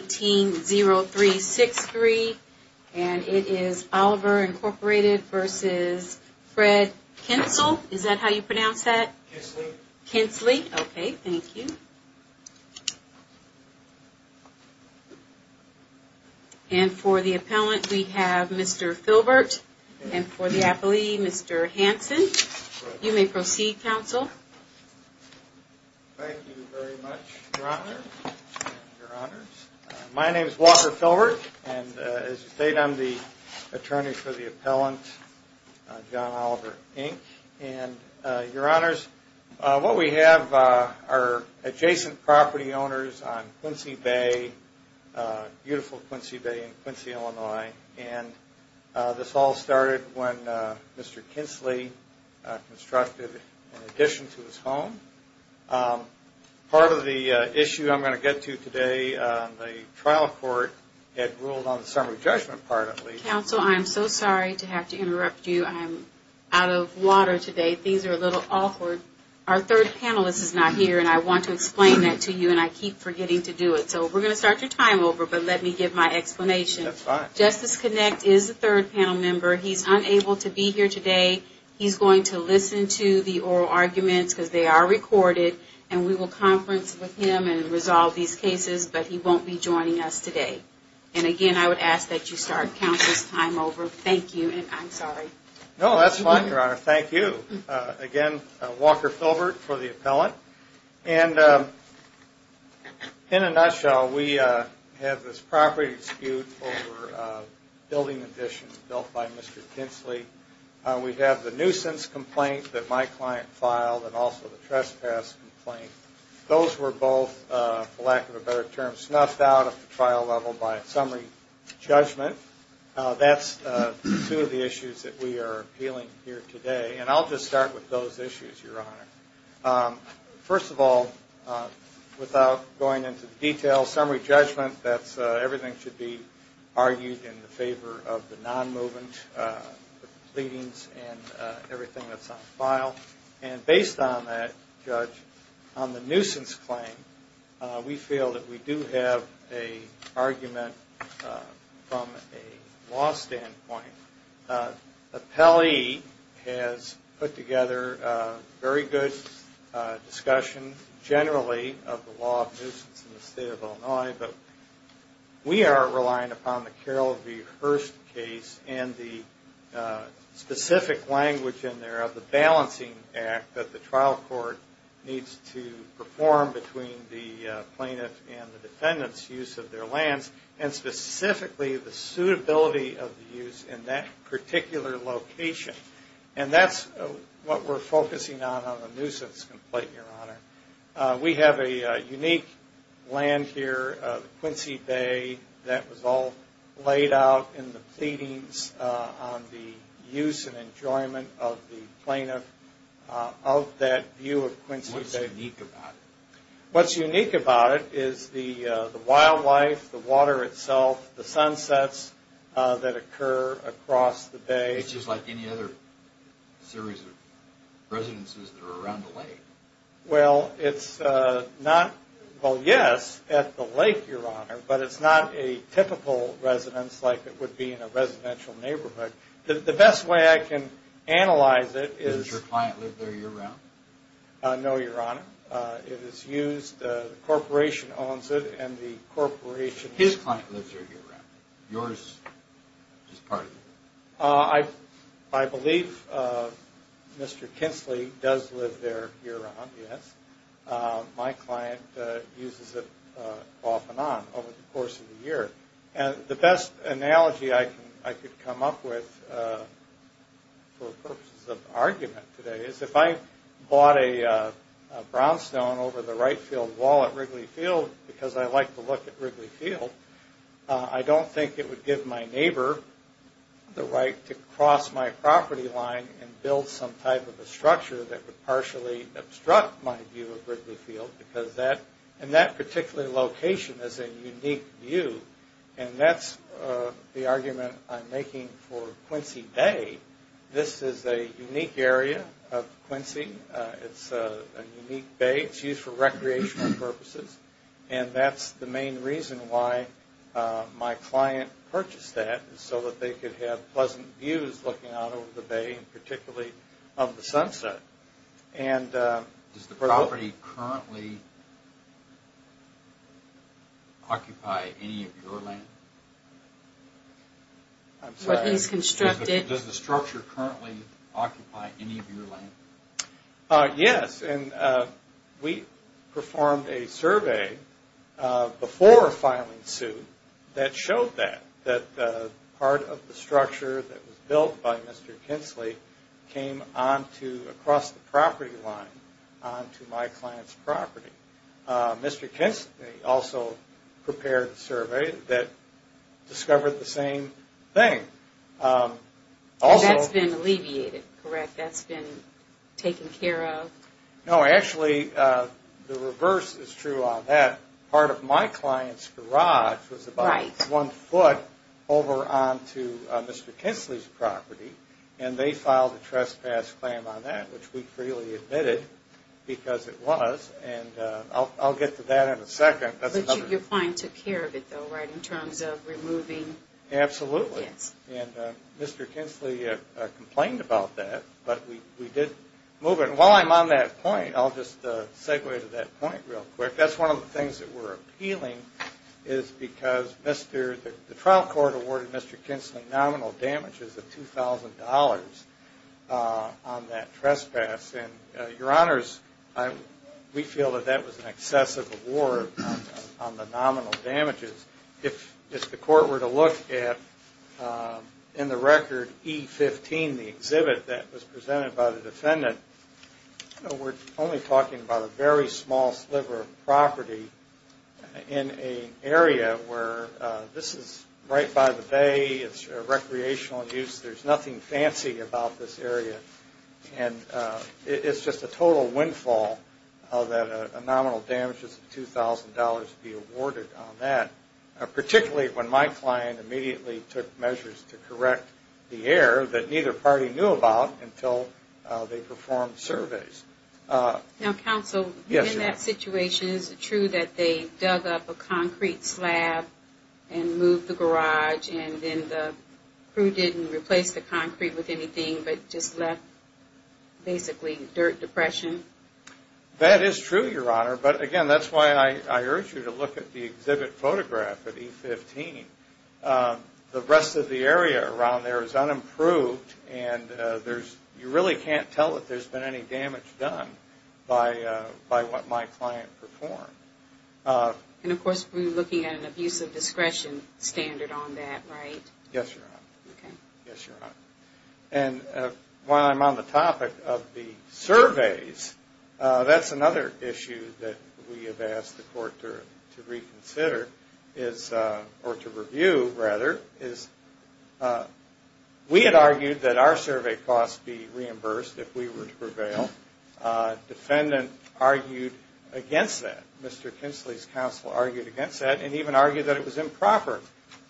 18-0363, and it is Oliver, Inc. v. Fred Klentzle. Is that how you pronounce that? Klentzle. Klentzle. Okay, thank you. And for the appellant, we have Mr. Filbert. And for the appellee, Mr. Hanson. You may proceed, counsel. Walker Filbert Thank you very much, Your Honor. My name is Walker Filbert, and as you stated, I'm the attorney for the appellant, John Oliver, Inc. And, Your Honors, what we have are adjacent property owners on Quincy Bay, beautiful Quincy Bay in Quincy, Illinois. And this all started when Mr. Klentzle constructed an addition to his home. Part of the issue I'm going to get to today, the trial court had ruled on the summary judgment part, at least. Counsel, I'm so sorry to have to interrupt you. I'm out of water today. Things are a little awkward. Our third panelist is not here, and I want to explain that to you, and I keep forgetting to do it. So we're going to start your time over, but let me give my explanation. That's fine. Justice Klentzle is the third panel member. He's unable to be here today. He's going to listen to the oral arguments, because they are recorded, and we will conference with him and resolve these cases, but he won't be joining us today. And again, I would ask that you start counsel's time over. Thank you, and I'm sorry. Walker Filbert No, that's fine, Your Honor. Thank you. Again, Walker Filbert for the appellant. And in a nutshell, we have this property dispute over a building addition built by Mr. Kintzle. We have the nuisance complaint that my client filed, and also the trespass complaint. Those were both, for lack of a better term, snuffed out of the trial level by a summary judgment. That's two of the issues that we are appealing here today, and I'll just start with those issues, Your Honor. First of all, without going into detail, summary judgment, that's everything should be argued in favor of the non-movement, the pleadings, and everything that's on file. And based on that, Judge, on the nuisance claim, we feel that we do have an argument from a law standpoint. Appellee has put together a very good discussion, generally, of the law of nuisance in the state of Illinois, but we are relying upon the Carroll v. Hurst case and the specific language in there of the balancing act that the trial court needs to perform between the plaintiff and the defendant's use of their lands, and specifically the suitability of the use in that particular location. And that's what we're focusing on, on the nuisance complaint, Your Honor. We have a unique land here, Quincy Bay, that was all laid out in the pleadings on the use and enjoyment of the plaintiff, of that view of Quincy Bay. What's unique about it? What's unique about it is the wildlife, the water itself, the sunsets that occur across the bay. It's just like any other series of residences that are around the lake. Well, it's not, well, yes, at the lake, Your Honor, but it's not a typical residence like it would be in a residential neighborhood. The best way I can analyze it is... Does your client live there year-round? No, Your Honor. It is used, the corporation owns it, and the corporation... His client lives there year-round. Yours is part of it. I believe Mr. Kinsley does live there year-round, yes. My client uses it off and on over the course of the year. The best analogy I could come up with for purposes of argument today is if I bought a brownstone over the right field wall at Wrigley Field, because I like to look at Wrigley Field, I don't think it would give my neighbor the right to cross my property line and build some type of a structure that would partially obstruct my view of Wrigley Field, because that, in that particular location, is a unique view, and that's the argument I'm making for Quincy Bay. This is a unique area of Quincy. It's a unique bay. It's used for recreational purposes, and that's the main reason why my client purchased that, so that they could have pleasant views looking out over the bay, and particularly of the sunset, and... Does the structure currently occupy any of your land? I'm sorry. Does the structure currently occupy any of your land? Yes, and we performed a survey before filing suit that showed that, that the part of the structure that was built by Mr. Kinsley came onto, across the property line, onto my client's property. Mr. Kinsley also prepared a survey that discovered the same thing. Also... That's been alleviated, correct? That's been taken care of? No, actually, the reverse is true on that. Part of my client's garage was about one foot over onto Mr. Kinsley's property, and they filed a trespass claim on that, which we freely admitted, because it was, and I'll get to that in a second. But your client took care of it, though, right? In terms of removing... Absolutely. And Mr. Kinsley complained about that, but we did move it. And while I'm on that point, I'll just segue to that point real quick. That's one of the things that we're appealing, is because the trial court awarded Mr. Kinsley nominal damages of $2,000 on that trespass, and, Your Honors, we feel that that was an excessive award on the nominal damages. If the court were to look at, in the record, E15, the exhibit that was presented by the defendant, we're only talking about a very small sliver of property in an area where this is right by the bay, it's recreational use, there's nothing fancy about this area, and it's just a total windfall that a nominal damages of $2,000 be awarded on that, particularly when my client immediately took measures to correct the error that neither party knew about until they performed surveys. Now, counsel, in that situation, is it true that they dug up a concrete slab and moved the garage and then the crew didn't replace the concrete with anything, but just left basically dirt depression? That is true, Your Honor, but again, that's why I urge you to look at the exhibit photograph at E15. The rest of the area around there is unimproved, and you really can't tell that there's been any damage done by what my client performed. And of course, we're looking at an abuse of discretion standard on that, right? Yes, Your Honor. And while I'm on the topic of the surveys, that's another issue that we have asked the court to reconsider, or to review, rather, is we had argued that our survey costs be reimbursed if we were to prevail. Defendant argued against that. Mr. Kinsley's counsel argued against that, and even argued that it was improper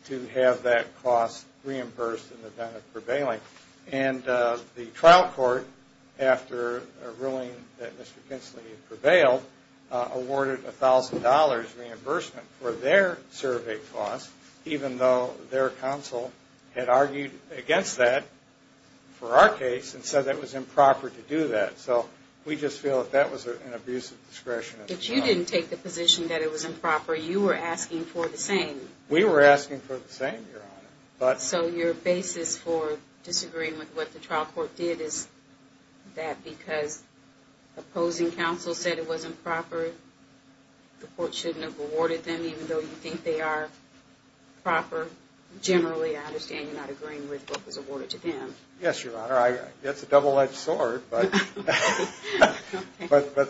to have that cost reimbursed in the event of prevailing. And the trial court, after a ruling that Mr. Kinsley prevailed, awarded $1,000 reimbursement for their survey costs, even though their counsel had argued against that for our case, and said that it was improper to do that. So, we just feel that that was an abuse of discretion. But you didn't take the position that it was improper. You were asking for the same. We were asking for the same, Your Honor. So, your basis for disagreeing with what the trial court did is that because opposing counsel said it wasn't proper, generally, I understand, you're not agreeing with what was awarded to them. Yes, Your Honor. It's a double-edged sword, but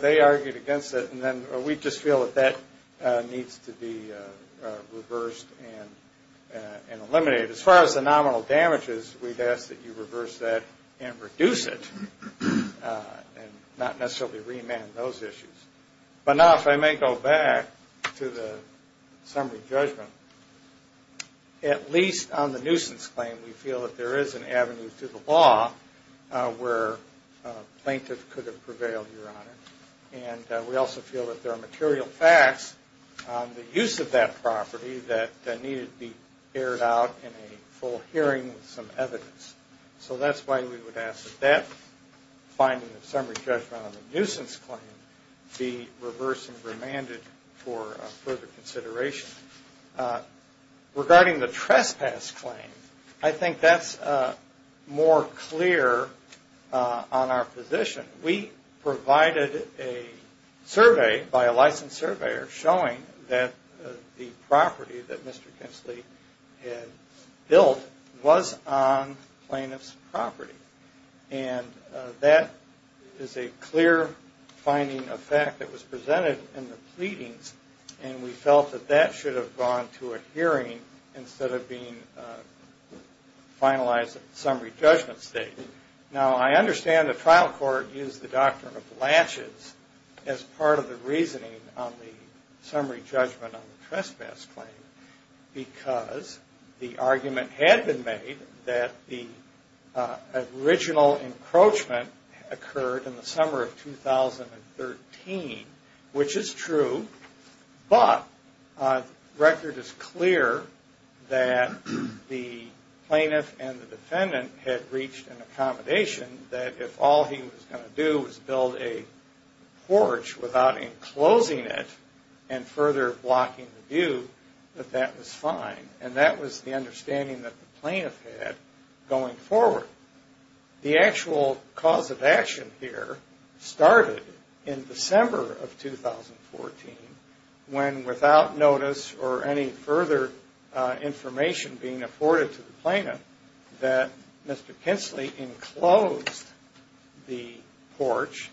they argued against it, and then we just feel that that needs to be reversed and eliminated. As far as the nominal damages, we've asked that you reverse that and reduce it, and not necessarily remand those issues. But now, if I may go back to the summary judgment, at least on the nuisance claim, we feel that there is an avenue to the law where a plaintiff could have prevailed, Your Honor. And we also feel that there are material facts on the use of that property that needed to be aired out in a full hearing with some evidence. So, that's why we would ask that that finding of summary judgment on the nuisance claim be reversed and remanded for further consideration. Regarding the trespass claim, I think that's more clear on our position. We provided a survey by a licensed surveyor showing that the property that Mr. Kensley had built was on plaintiff's property. And that is a clear finding of fact that was presented in the pleadings, and we felt that that should have gone to a hearing instead of being finalized at the summary judgment stage. Now, I understand the trial court used the doctrine of latches as part of the reasoning on the summary judgment on the trespass claim because the argument had been made that the original encroachment occurred in the summer of 2013, which is true, but record is clear that the plaintiff and the defendant had reached an accommodation that if all he was going to do was build a porch without enclosing it and further blocking the view, that that was fine. And that was the understanding that the plaintiff had going forward. The actual cause of action here started in December of 2014 when without notice or any further information being afforded to the plaintiff that Mr. Kensley enclosed the porch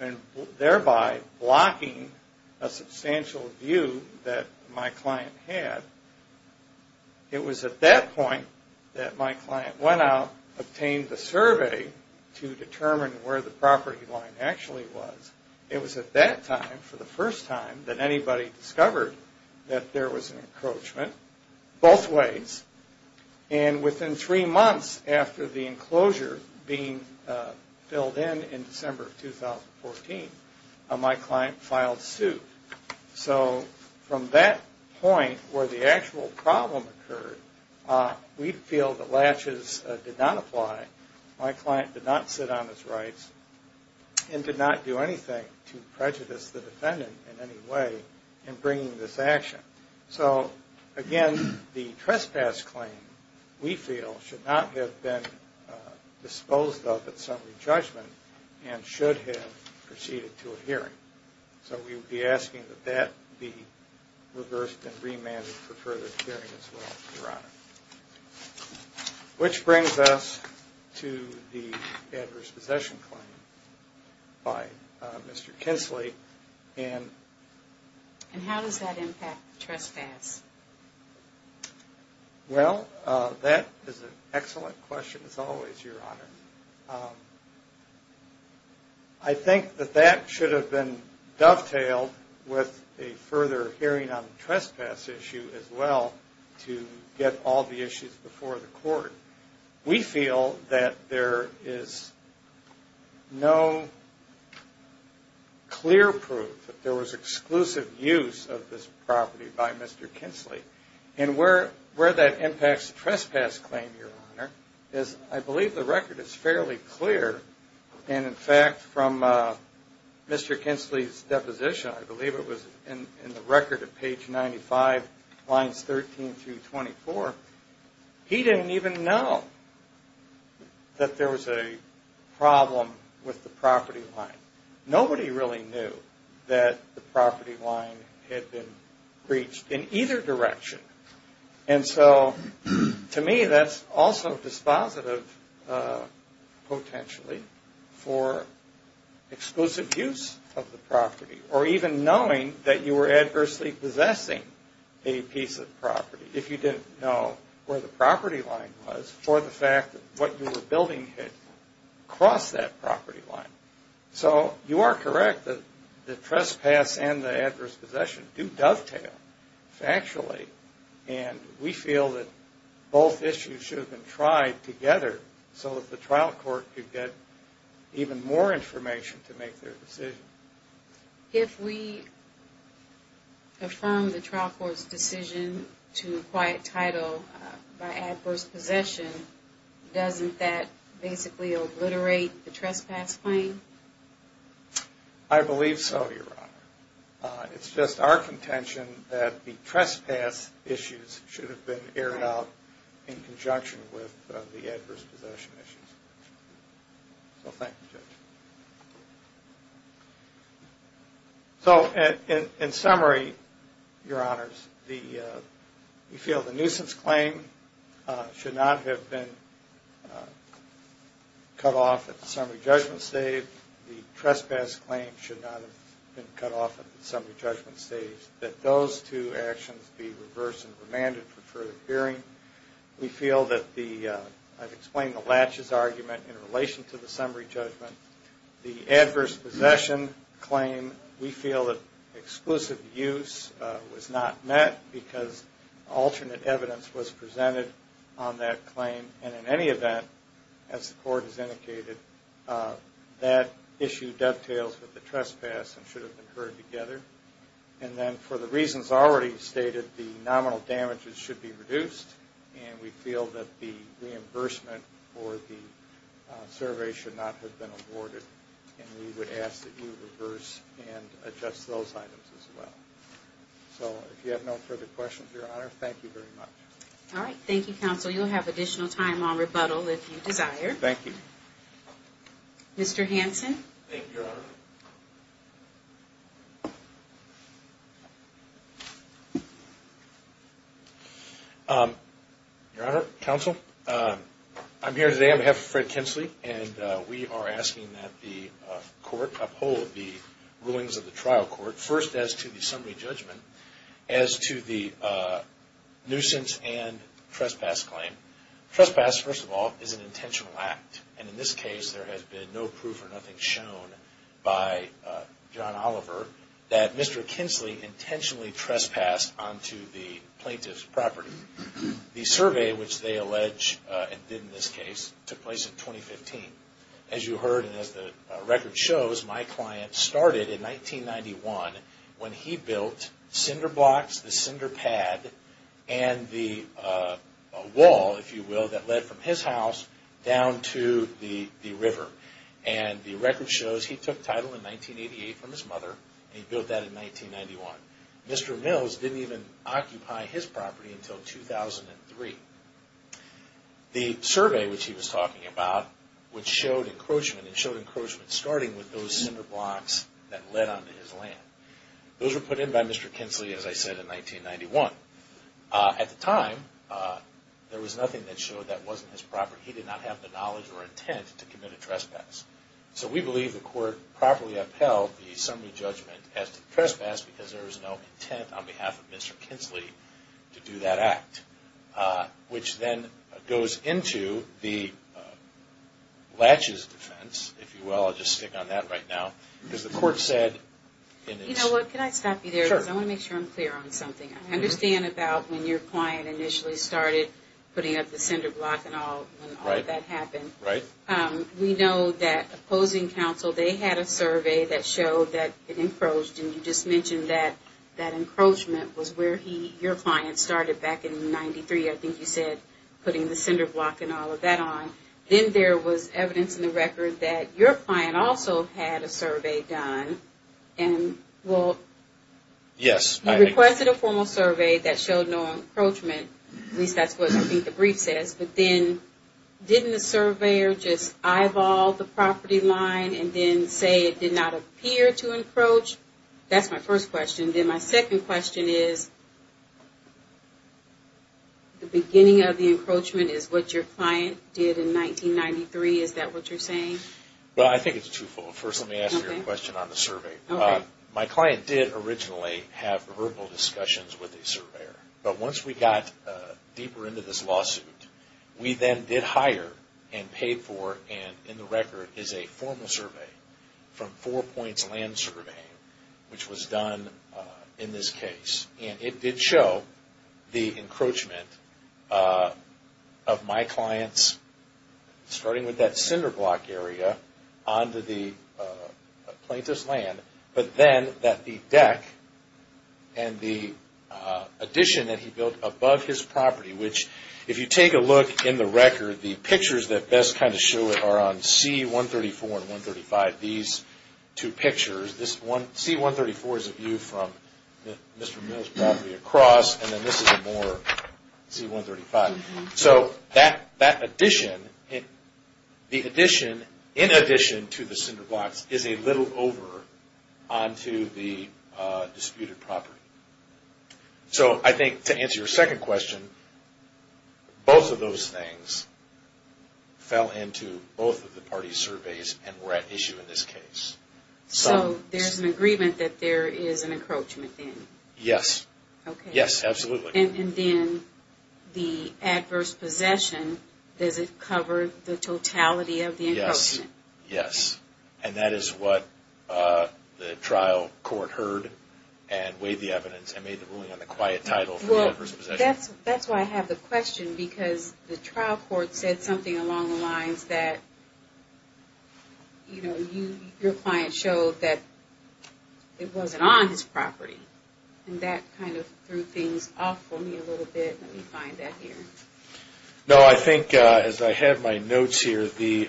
and thereby blocking a substantial view that my client had. It was at that point that my client went out, obtained the survey to determine where the property line actually was. It was at that time, for the first time, that anybody discovered that there was an encroachment both ways. And within three months after the enclosure being filled in, in December of 2014, my client filed suit. So from that point where the actual problem occurred, we feel that latches did not apply. My client did not sit on his rights and did not do anything to prejudice the defendant in any way in bringing this action. So again, the trespass claim, we feel, should not have been disposed of at summary judgment and should have proceeded to a hearing. So we would be asking that that be reversed and remanded for further hearing as well, Your Honor. Which brings us to the adverse possession claim by Mr. Kensley. And how does that impact trespass? Well, that is an excellent question as always, Your Honor. I think that that should have been dovetailed with a further hearing on the trespass issue as well to get all the issues before the court. We feel that there is no clear proof that there was exclusive use of this property by Mr. Kensley. And where that impacts the trespass claim, Your Honor, is I believe the record is fairly clear. And in fact, from Mr. Kensley's there was a problem with the property line. Nobody really knew that the property line had been breached in either direction. And so to me, that's also dispositive potentially for exclusive use of the property or even knowing that you were adversely possessing a piece of property. If you didn't know where the property line was for the fact that what you were building had crossed that property line. So you are correct that the trespass and the adverse possession do dovetail factually. And we feel that both issues should have been tried together so that the trial court could get even more information to make their decision. If we affirm the trial court's decision to acquire title by adverse possession, doesn't that basically obliterate the trespass claim? I believe so, Your Honor. It's just our contention that the trespass issues should have been aired out in conjunction with the adverse possession issues. So thank you, Judge. So in summary, Your Honors, we feel the nuisance claim should not have been cut off at the summary judgment stage. The trespass claim should not have been cut off at the summary judgment stage. That those two actions be reversed and we feel that the, I've explained the latches argument in relation to the summary judgment. The adverse possession claim, we feel that exclusive use was not met because alternate evidence was presented on that claim. And in any event, as the court has indicated, that issue dovetails with the trespass and should have been heard together. And then for the reasons already stated, the nominal damages should be reduced and we feel that the reimbursement for the survey should not have been awarded. And we would ask that you reverse and adjust those items as well. So if you have no further questions, Your Honor, thank you very much. All right. Thank you, Counsel. You'll have additional time on rebuttal if you desire. Thank you. Mr. Hanson. Thank you, Your Honor. Your Honor, Counsel, I'm here today on behalf of Fred Kinsley and we are asking that the court uphold the rulings of the trial And in this case, there has been no proof or nothing shown by John Oliver that Mr. Kinsley intentionally trespassed onto the plaintiff's property. The survey, which they allege and did in this case, took place in 2015. As you heard and as the record shows, my client started in 1991 when he built cinder blocks, the cinder pad, and the wall, if you will, that led from his house down to the river. And the record shows he took title in 1988 from his mother and he built that in 1991. Mr. Mills didn't even occupy his property until 2003. The survey, which he was talking about, which showed encroachment and showed encroachment starting with those cinder blocks that led onto his land. Those were put in by Mr. Kinsley, as I said, in 1991. At the time, there was nothing that showed that wasn't his property. He did not have the knowledge or intent to commit a trespass. So we believe the court properly upheld the summary judgment as to trespass because there was no intent on behalf of Mr. Kinsley to do that act, which then goes into the latches defense, if you will. I'll just stick on that right now. Because the court said in its... You know what? Can I stop you there? Sure. I want to make sure I'm clear on something. I understand about when your client initially started putting up the cinder block and all, when all of that happened. Right. We know that opposing counsel, they had a survey that showed that it encroached and you just said encroachment was where he, your client, started back in 93, I think you said, putting the cinder block and all of that on. Then there was evidence in the record that your client also had a survey done. Yes. He requested a formal survey that showed no encroachment. At least that's what I think the brief says. But then didn't the surveyor just eyeball the property line and then say it did not appear to encroach? That's my first question. Then my second question is, the beginning of the encroachment is what your client did in 1993. Is that what you're saying? Well, I think it's twofold. First, let me ask you a question on the survey. My client did originally have verbal discussions with a surveyor. But once we got deeper into this lawsuit, we then did hire and paid for and in the record is a formal survey from Four Points Land Survey, which was done in this case. It did show the encroachment of my client's, starting with that cinder block area, onto the plaintiff's land. But then that the deck and the addition that he built above his property, which if you take a look in the record, the two pictures are on C-134 and C-135. These two pictures, C-134 is a view from Mr. Mills' property across and then this is a more C-135. So that addition, the addition, in addition to the cinder blocks, is a little over onto the disputed property. So I think to answer your second question, both of those things fell into both of the parties' surveys and were at issue in this case. So there's an agreement that there is an encroachment then? Yes. Yes, absolutely. And then the adverse possession, does it cover the totality of the encroachment? Yes. And that is what the trial court heard and weighed the evidence and made the ruling on the quiet title for the adverse possession. Well, that's why I have the question because the trial court said something along the lines that, you know, your client showed that it wasn't on his property. And that kind of threw things off for me a little bit. Let me find that here. No, I think, as I have my notes here, the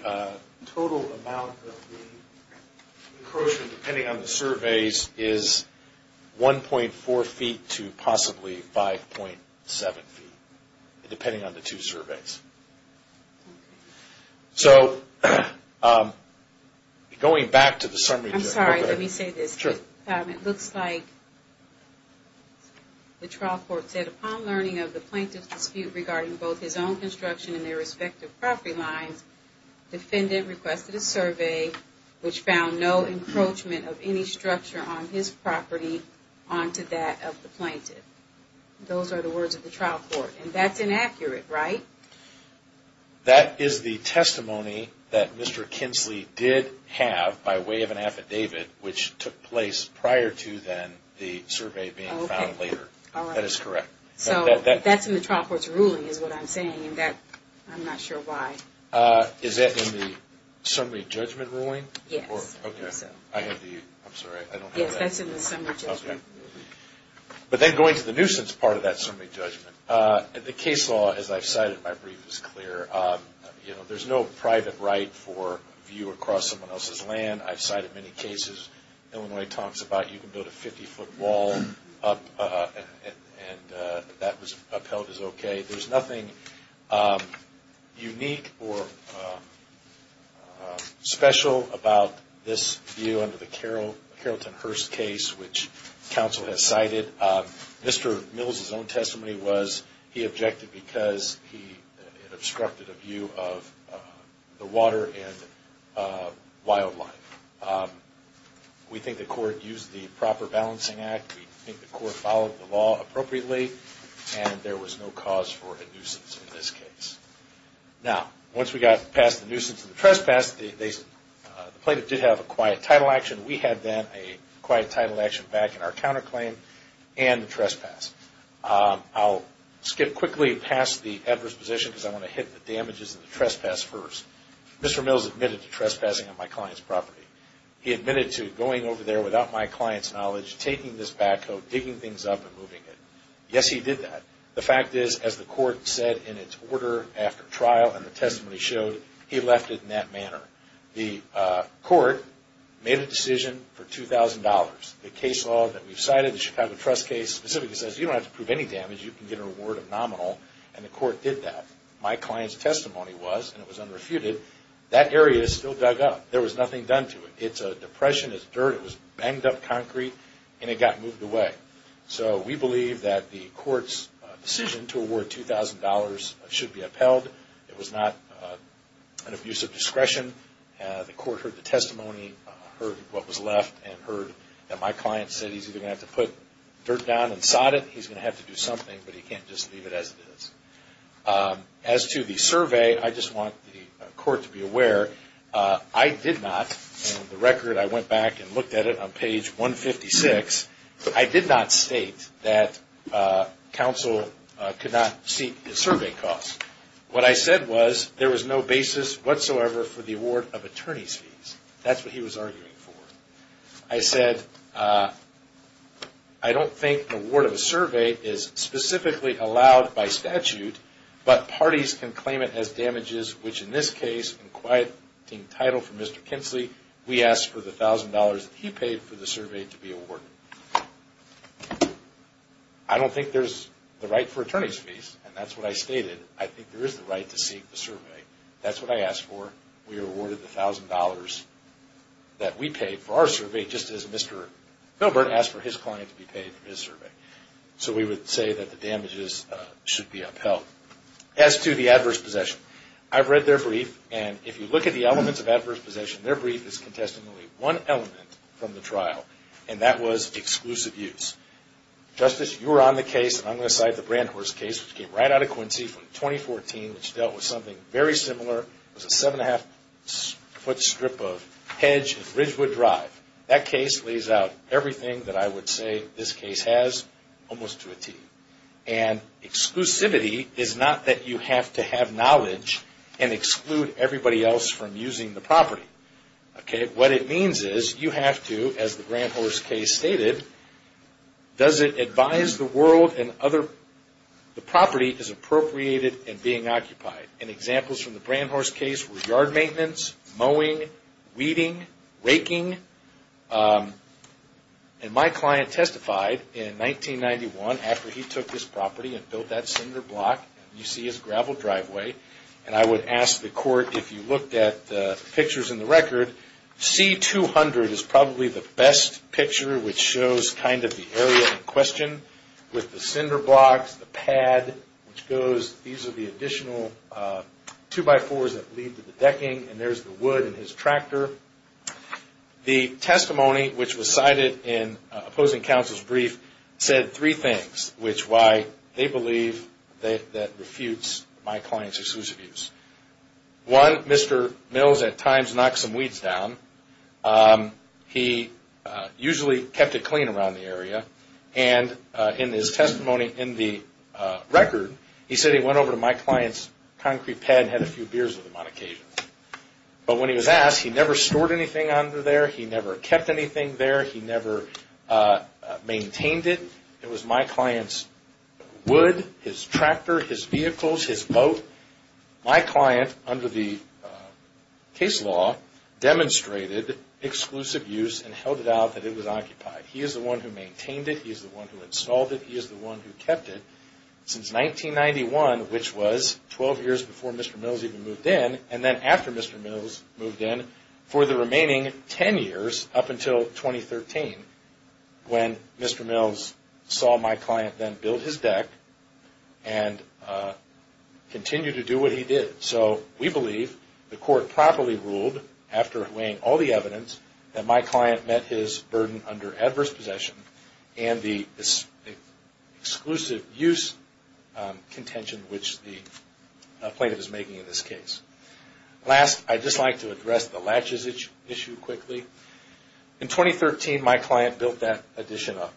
total amount of the encroachment, depending on the surveys, is 1.4 feet to possibly 5.7 feet, depending on the two surveys. So, going back to the summary. I'm sorry, let me say this. Sure. It looks like the trial court said, upon learning of the plaintiff's dispute regarding both his own construction and their respective property lines, the defendant requested a survey which found no encroachment of any structure on his property onto that of the plaintiff. Those are the words of the trial court. And that's inaccurate, right? That is the testimony that Mr. Kinsley did have by way of an affidavit which took place prior to then the survey being found later. That is correct. So, that's in the trial court's ruling is what I'm saying. I'm not sure why. Is that in the summary judgment ruling? Yes. I have the, I'm sorry, I don't have that. Yes, that's in the summary judgment. But then going to the nuisance part of that summary judgment. The case law, as I've cited, my brief is clear. You know, there's no private right for a view across someone else's land. I've cited many cases. Illinois talks about you can build a 50-foot wall up and that was upheld as okay. There's nothing unique or special about this view under the Carrollton Hurst case, which counsel has cited. Mr. Mills' own testimony was he objected because it obstructed a view of the water and wildlife. We think the court used the proper balancing act. We think the court followed the law appropriately and there was no cause for a nuisance in this case. Now, once we got past the nuisance and the trespass, the plaintiff did have a quiet title action. We had then a quiet title action back in our counterclaim and the trespass. I'll skip quickly past the adverse position because I want to hit the damages and the trespass first. Mr. Mills admitted to trespassing on my client's property. He admitted to going over there without my client's knowledge, taking this backhoe, digging things up and moving it. Yes, he did that. The fact is, as the court said in its order after trial and the testimony showed, he left it in that manner. The court made a decision for $2,000. The case law that we've cited, the Chicago Trust case, specifically says you don't have to prove any damage. You can get a reward of nominal and the court did that. My client's testimony was, and it was unrefuted, that area is still dug up. There was nothing done to it. It's a depression, it's dirt, it was banged up concrete, and it got moved away. So we believe that the court's decision to award $2,000 should be upheld. It was not an abuse of discretion. The court heard the testimony, heard what was left, and heard that my client said he's either going to have to put dirt down and sod it, he's going to have to do something, but he can't just leave it as it is. I did not, and the record, I went back and looked at it on page 156. I did not state that counsel could not seek a survey cost. What I said was there was no basis whatsoever for the award of attorney's fees. That's what he was arguing for. I said I don't think the award of a survey is specifically allowed by statute, but parties can claim it as damages, which in this case, in quieting title for Mr. Kinsley, we ask for the $1,000 that he paid for the survey to be awarded. I don't think there's the right for attorney's fees, and that's what I stated. I think there is the right to seek the survey. That's what I asked for. We were awarded the $1,000 that we paid for our survey, just as Mr. Milburn asked for his client to be paid for his survey. So we would say that the damages should be upheld. As to the adverse possession, I've read their brief, and if you look at the elements of adverse possession, their brief is contesting only one element from the trial, and that was exclusive use. Justice, you were on the case, and I'm going to cite the Brand Horse case, which came right out of Quincy from 2014, which dealt with something very similar. It was a seven-and-a-half-foot strip of hedge and Ridgewood Drive. That case lays out everything that I would say this case has, almost to a T. And exclusivity is not that you have to have knowledge and exclude everybody else from using the property. What it means is you have to, as the Brand Horse case stated, does it advise the world and other property is appropriated and being occupied. And examples from the Brand Horse case were yard maintenance, mowing, weeding, raking. And my client testified in 1991, after he took this property and built that cinder block, and you see his gravel driveway. And I would ask the court, if you looked at the pictures in the record, C-200 is probably the best picture, which shows kind of the area in question, with the cinder blocks, the pad, which goes. These are the additional two-by-fours that lead to the decking, and there's the wood in his tractor. The testimony, which was cited in opposing counsel's brief, said three things, which why they believe that refutes my client's exclusive use. One, Mr. Mills at times knocked some weeds down. He usually kept it clean around the area. And in his testimony in the record, he said he went over to my client's concrete pad and had a few beers with him on occasion. But when he was asked, he never stored anything under there. He never kept anything there. He never maintained it. It was my client's wood, his tractor, his vehicles, his boat. My client, under the case law, demonstrated exclusive use and held it out that it was occupied. He is the one who maintained it. He is the one who installed it. He is the one who kept it since 1991, which was 12 years before Mr. Mills even moved in, and then after Mr. Mills moved in for the remaining 10 years up until 2013, when Mr. Mills saw my client then build his deck and continued to do what he did. So we believe the court properly ruled, after weighing all the evidence, that my client met his burden under adverse possession and the exclusive use contention which the plaintiff is making in this case. Last, I'd just like to address the latches issue quickly. In 2013, my client built that addition up.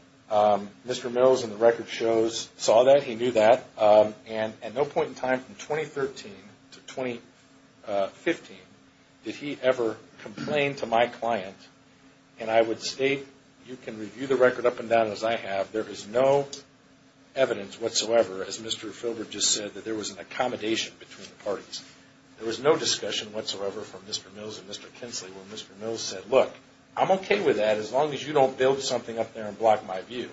Mr. Mills, in the record shows, saw that. He knew that. And at no point in time from 2013 to 2015 did he ever complain to my client, and I would state, you can review the record up and down as I have, there is no evidence whatsoever, as Mr. Filbert just said, that there was an accommodation between the parties. There was no discussion whatsoever from Mr. Mills and Mr. Kinsley when Mr. Mills said, look, I'm okay with that as long as you don't build something up there and block my view.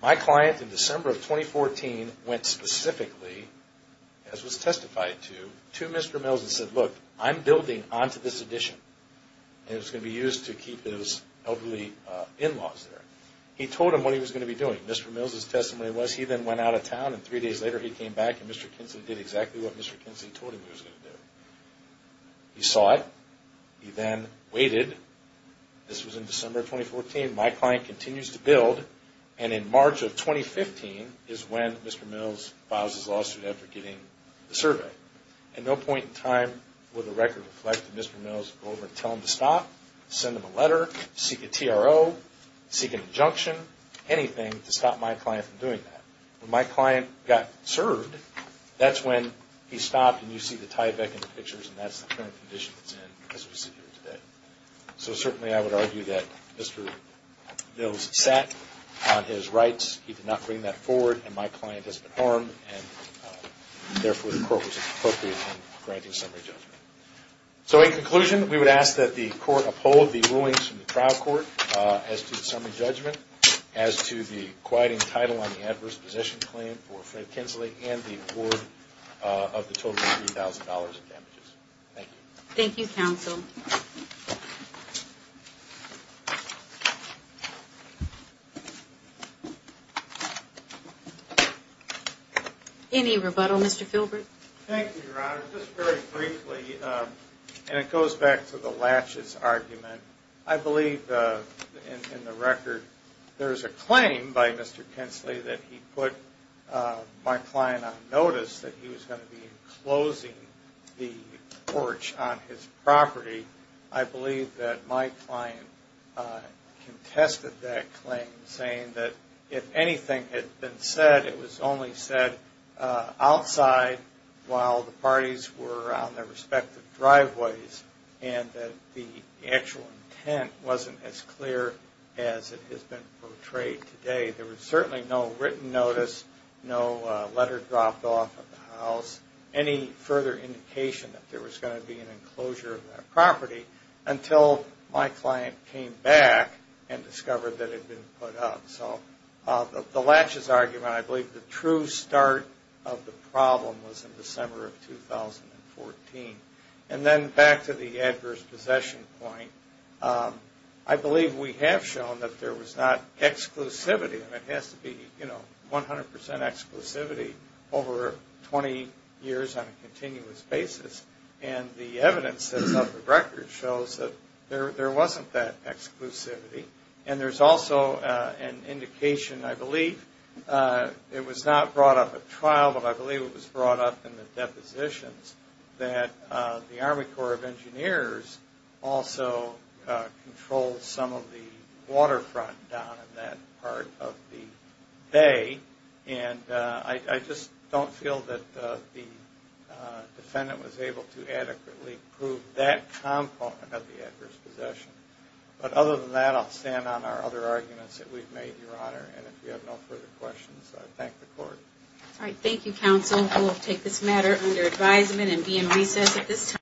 My client, in December of 2014, went specifically, as was testified to, to Mr. Mills and said, look, I'm building onto this addition, and it's going to be used to keep his elderly in-laws there. He told him what he was going to be doing. Mr. Mills' testimony was he then went out of town, and three days later he came back and Mr. Kinsley did exactly what Mr. Kinsley told him he was going to do. He saw it. He then waited. This was in December of 2014. My client continues to build, and in March of 2015 is when Mr. Mills files his lawsuit after getting the survey. At no point in time would the record reflect that Mr. Mills would go over and tell him to stop, send him a letter, seek a TRO, seek an injunction, anything to stop my client from doing that. When my client got served, that's when he stopped, and you see the tie-back in the pictures, and that's the current condition that's in as we sit here today. So certainly I would argue that Mr. Mills sat on his rights. He did not bring that forward, and my client has been harmed, and therefore the court was appropriate in granting summary judgment. So in conclusion, we would ask that the court uphold the rulings from the trial court as to the summary judgment, as to the quieting title on the adverse position claim for Fred Kinsley, and the award of the total of $3,000 in damages. Thank you. Thank you, counsel. Any rebuttal, Mr. Filbert? Thank you, Your Honor. Just very briefly, and it goes back to the latches argument. I believe in the record there is a claim by Mr. Kinsley that he put my client on notice that he was going to be enclosing the porch on his property. I believe that my client contested that claim, saying that if anything had been said, it was only said outside while the parties were on their respective driveways, and that the actual intent wasn't as clear as it has been portrayed today. There was certainly no written notice, no letter dropped off at the house, any further indication that there was going to be an enclosure of that property, until my client came back and discovered that it had been put up. So the latches argument, I believe the true start of the problem was in December of 2014. And then back to the adverse possession point, I believe we have shown that there was not exclusivity, and it has to be 100% exclusivity over 20 years on a continuous basis. And the evidence of the record shows that there wasn't that exclusivity. And there's also an indication, I believe, it was not brought up at trial, but I believe it was brought up in the depositions, that the Army Corps of Engineers also controlled some of the waterfront down in that part of the bay. And I just don't feel that the defendant was able to adequately prove that component of the adverse possession. But other than that, I'll stand on our other arguments that we've made, Your Honor, and if you have no further questions, I thank the Court. All right, thank you, counsel. We'll take this matter under advisement and be in recess at this time.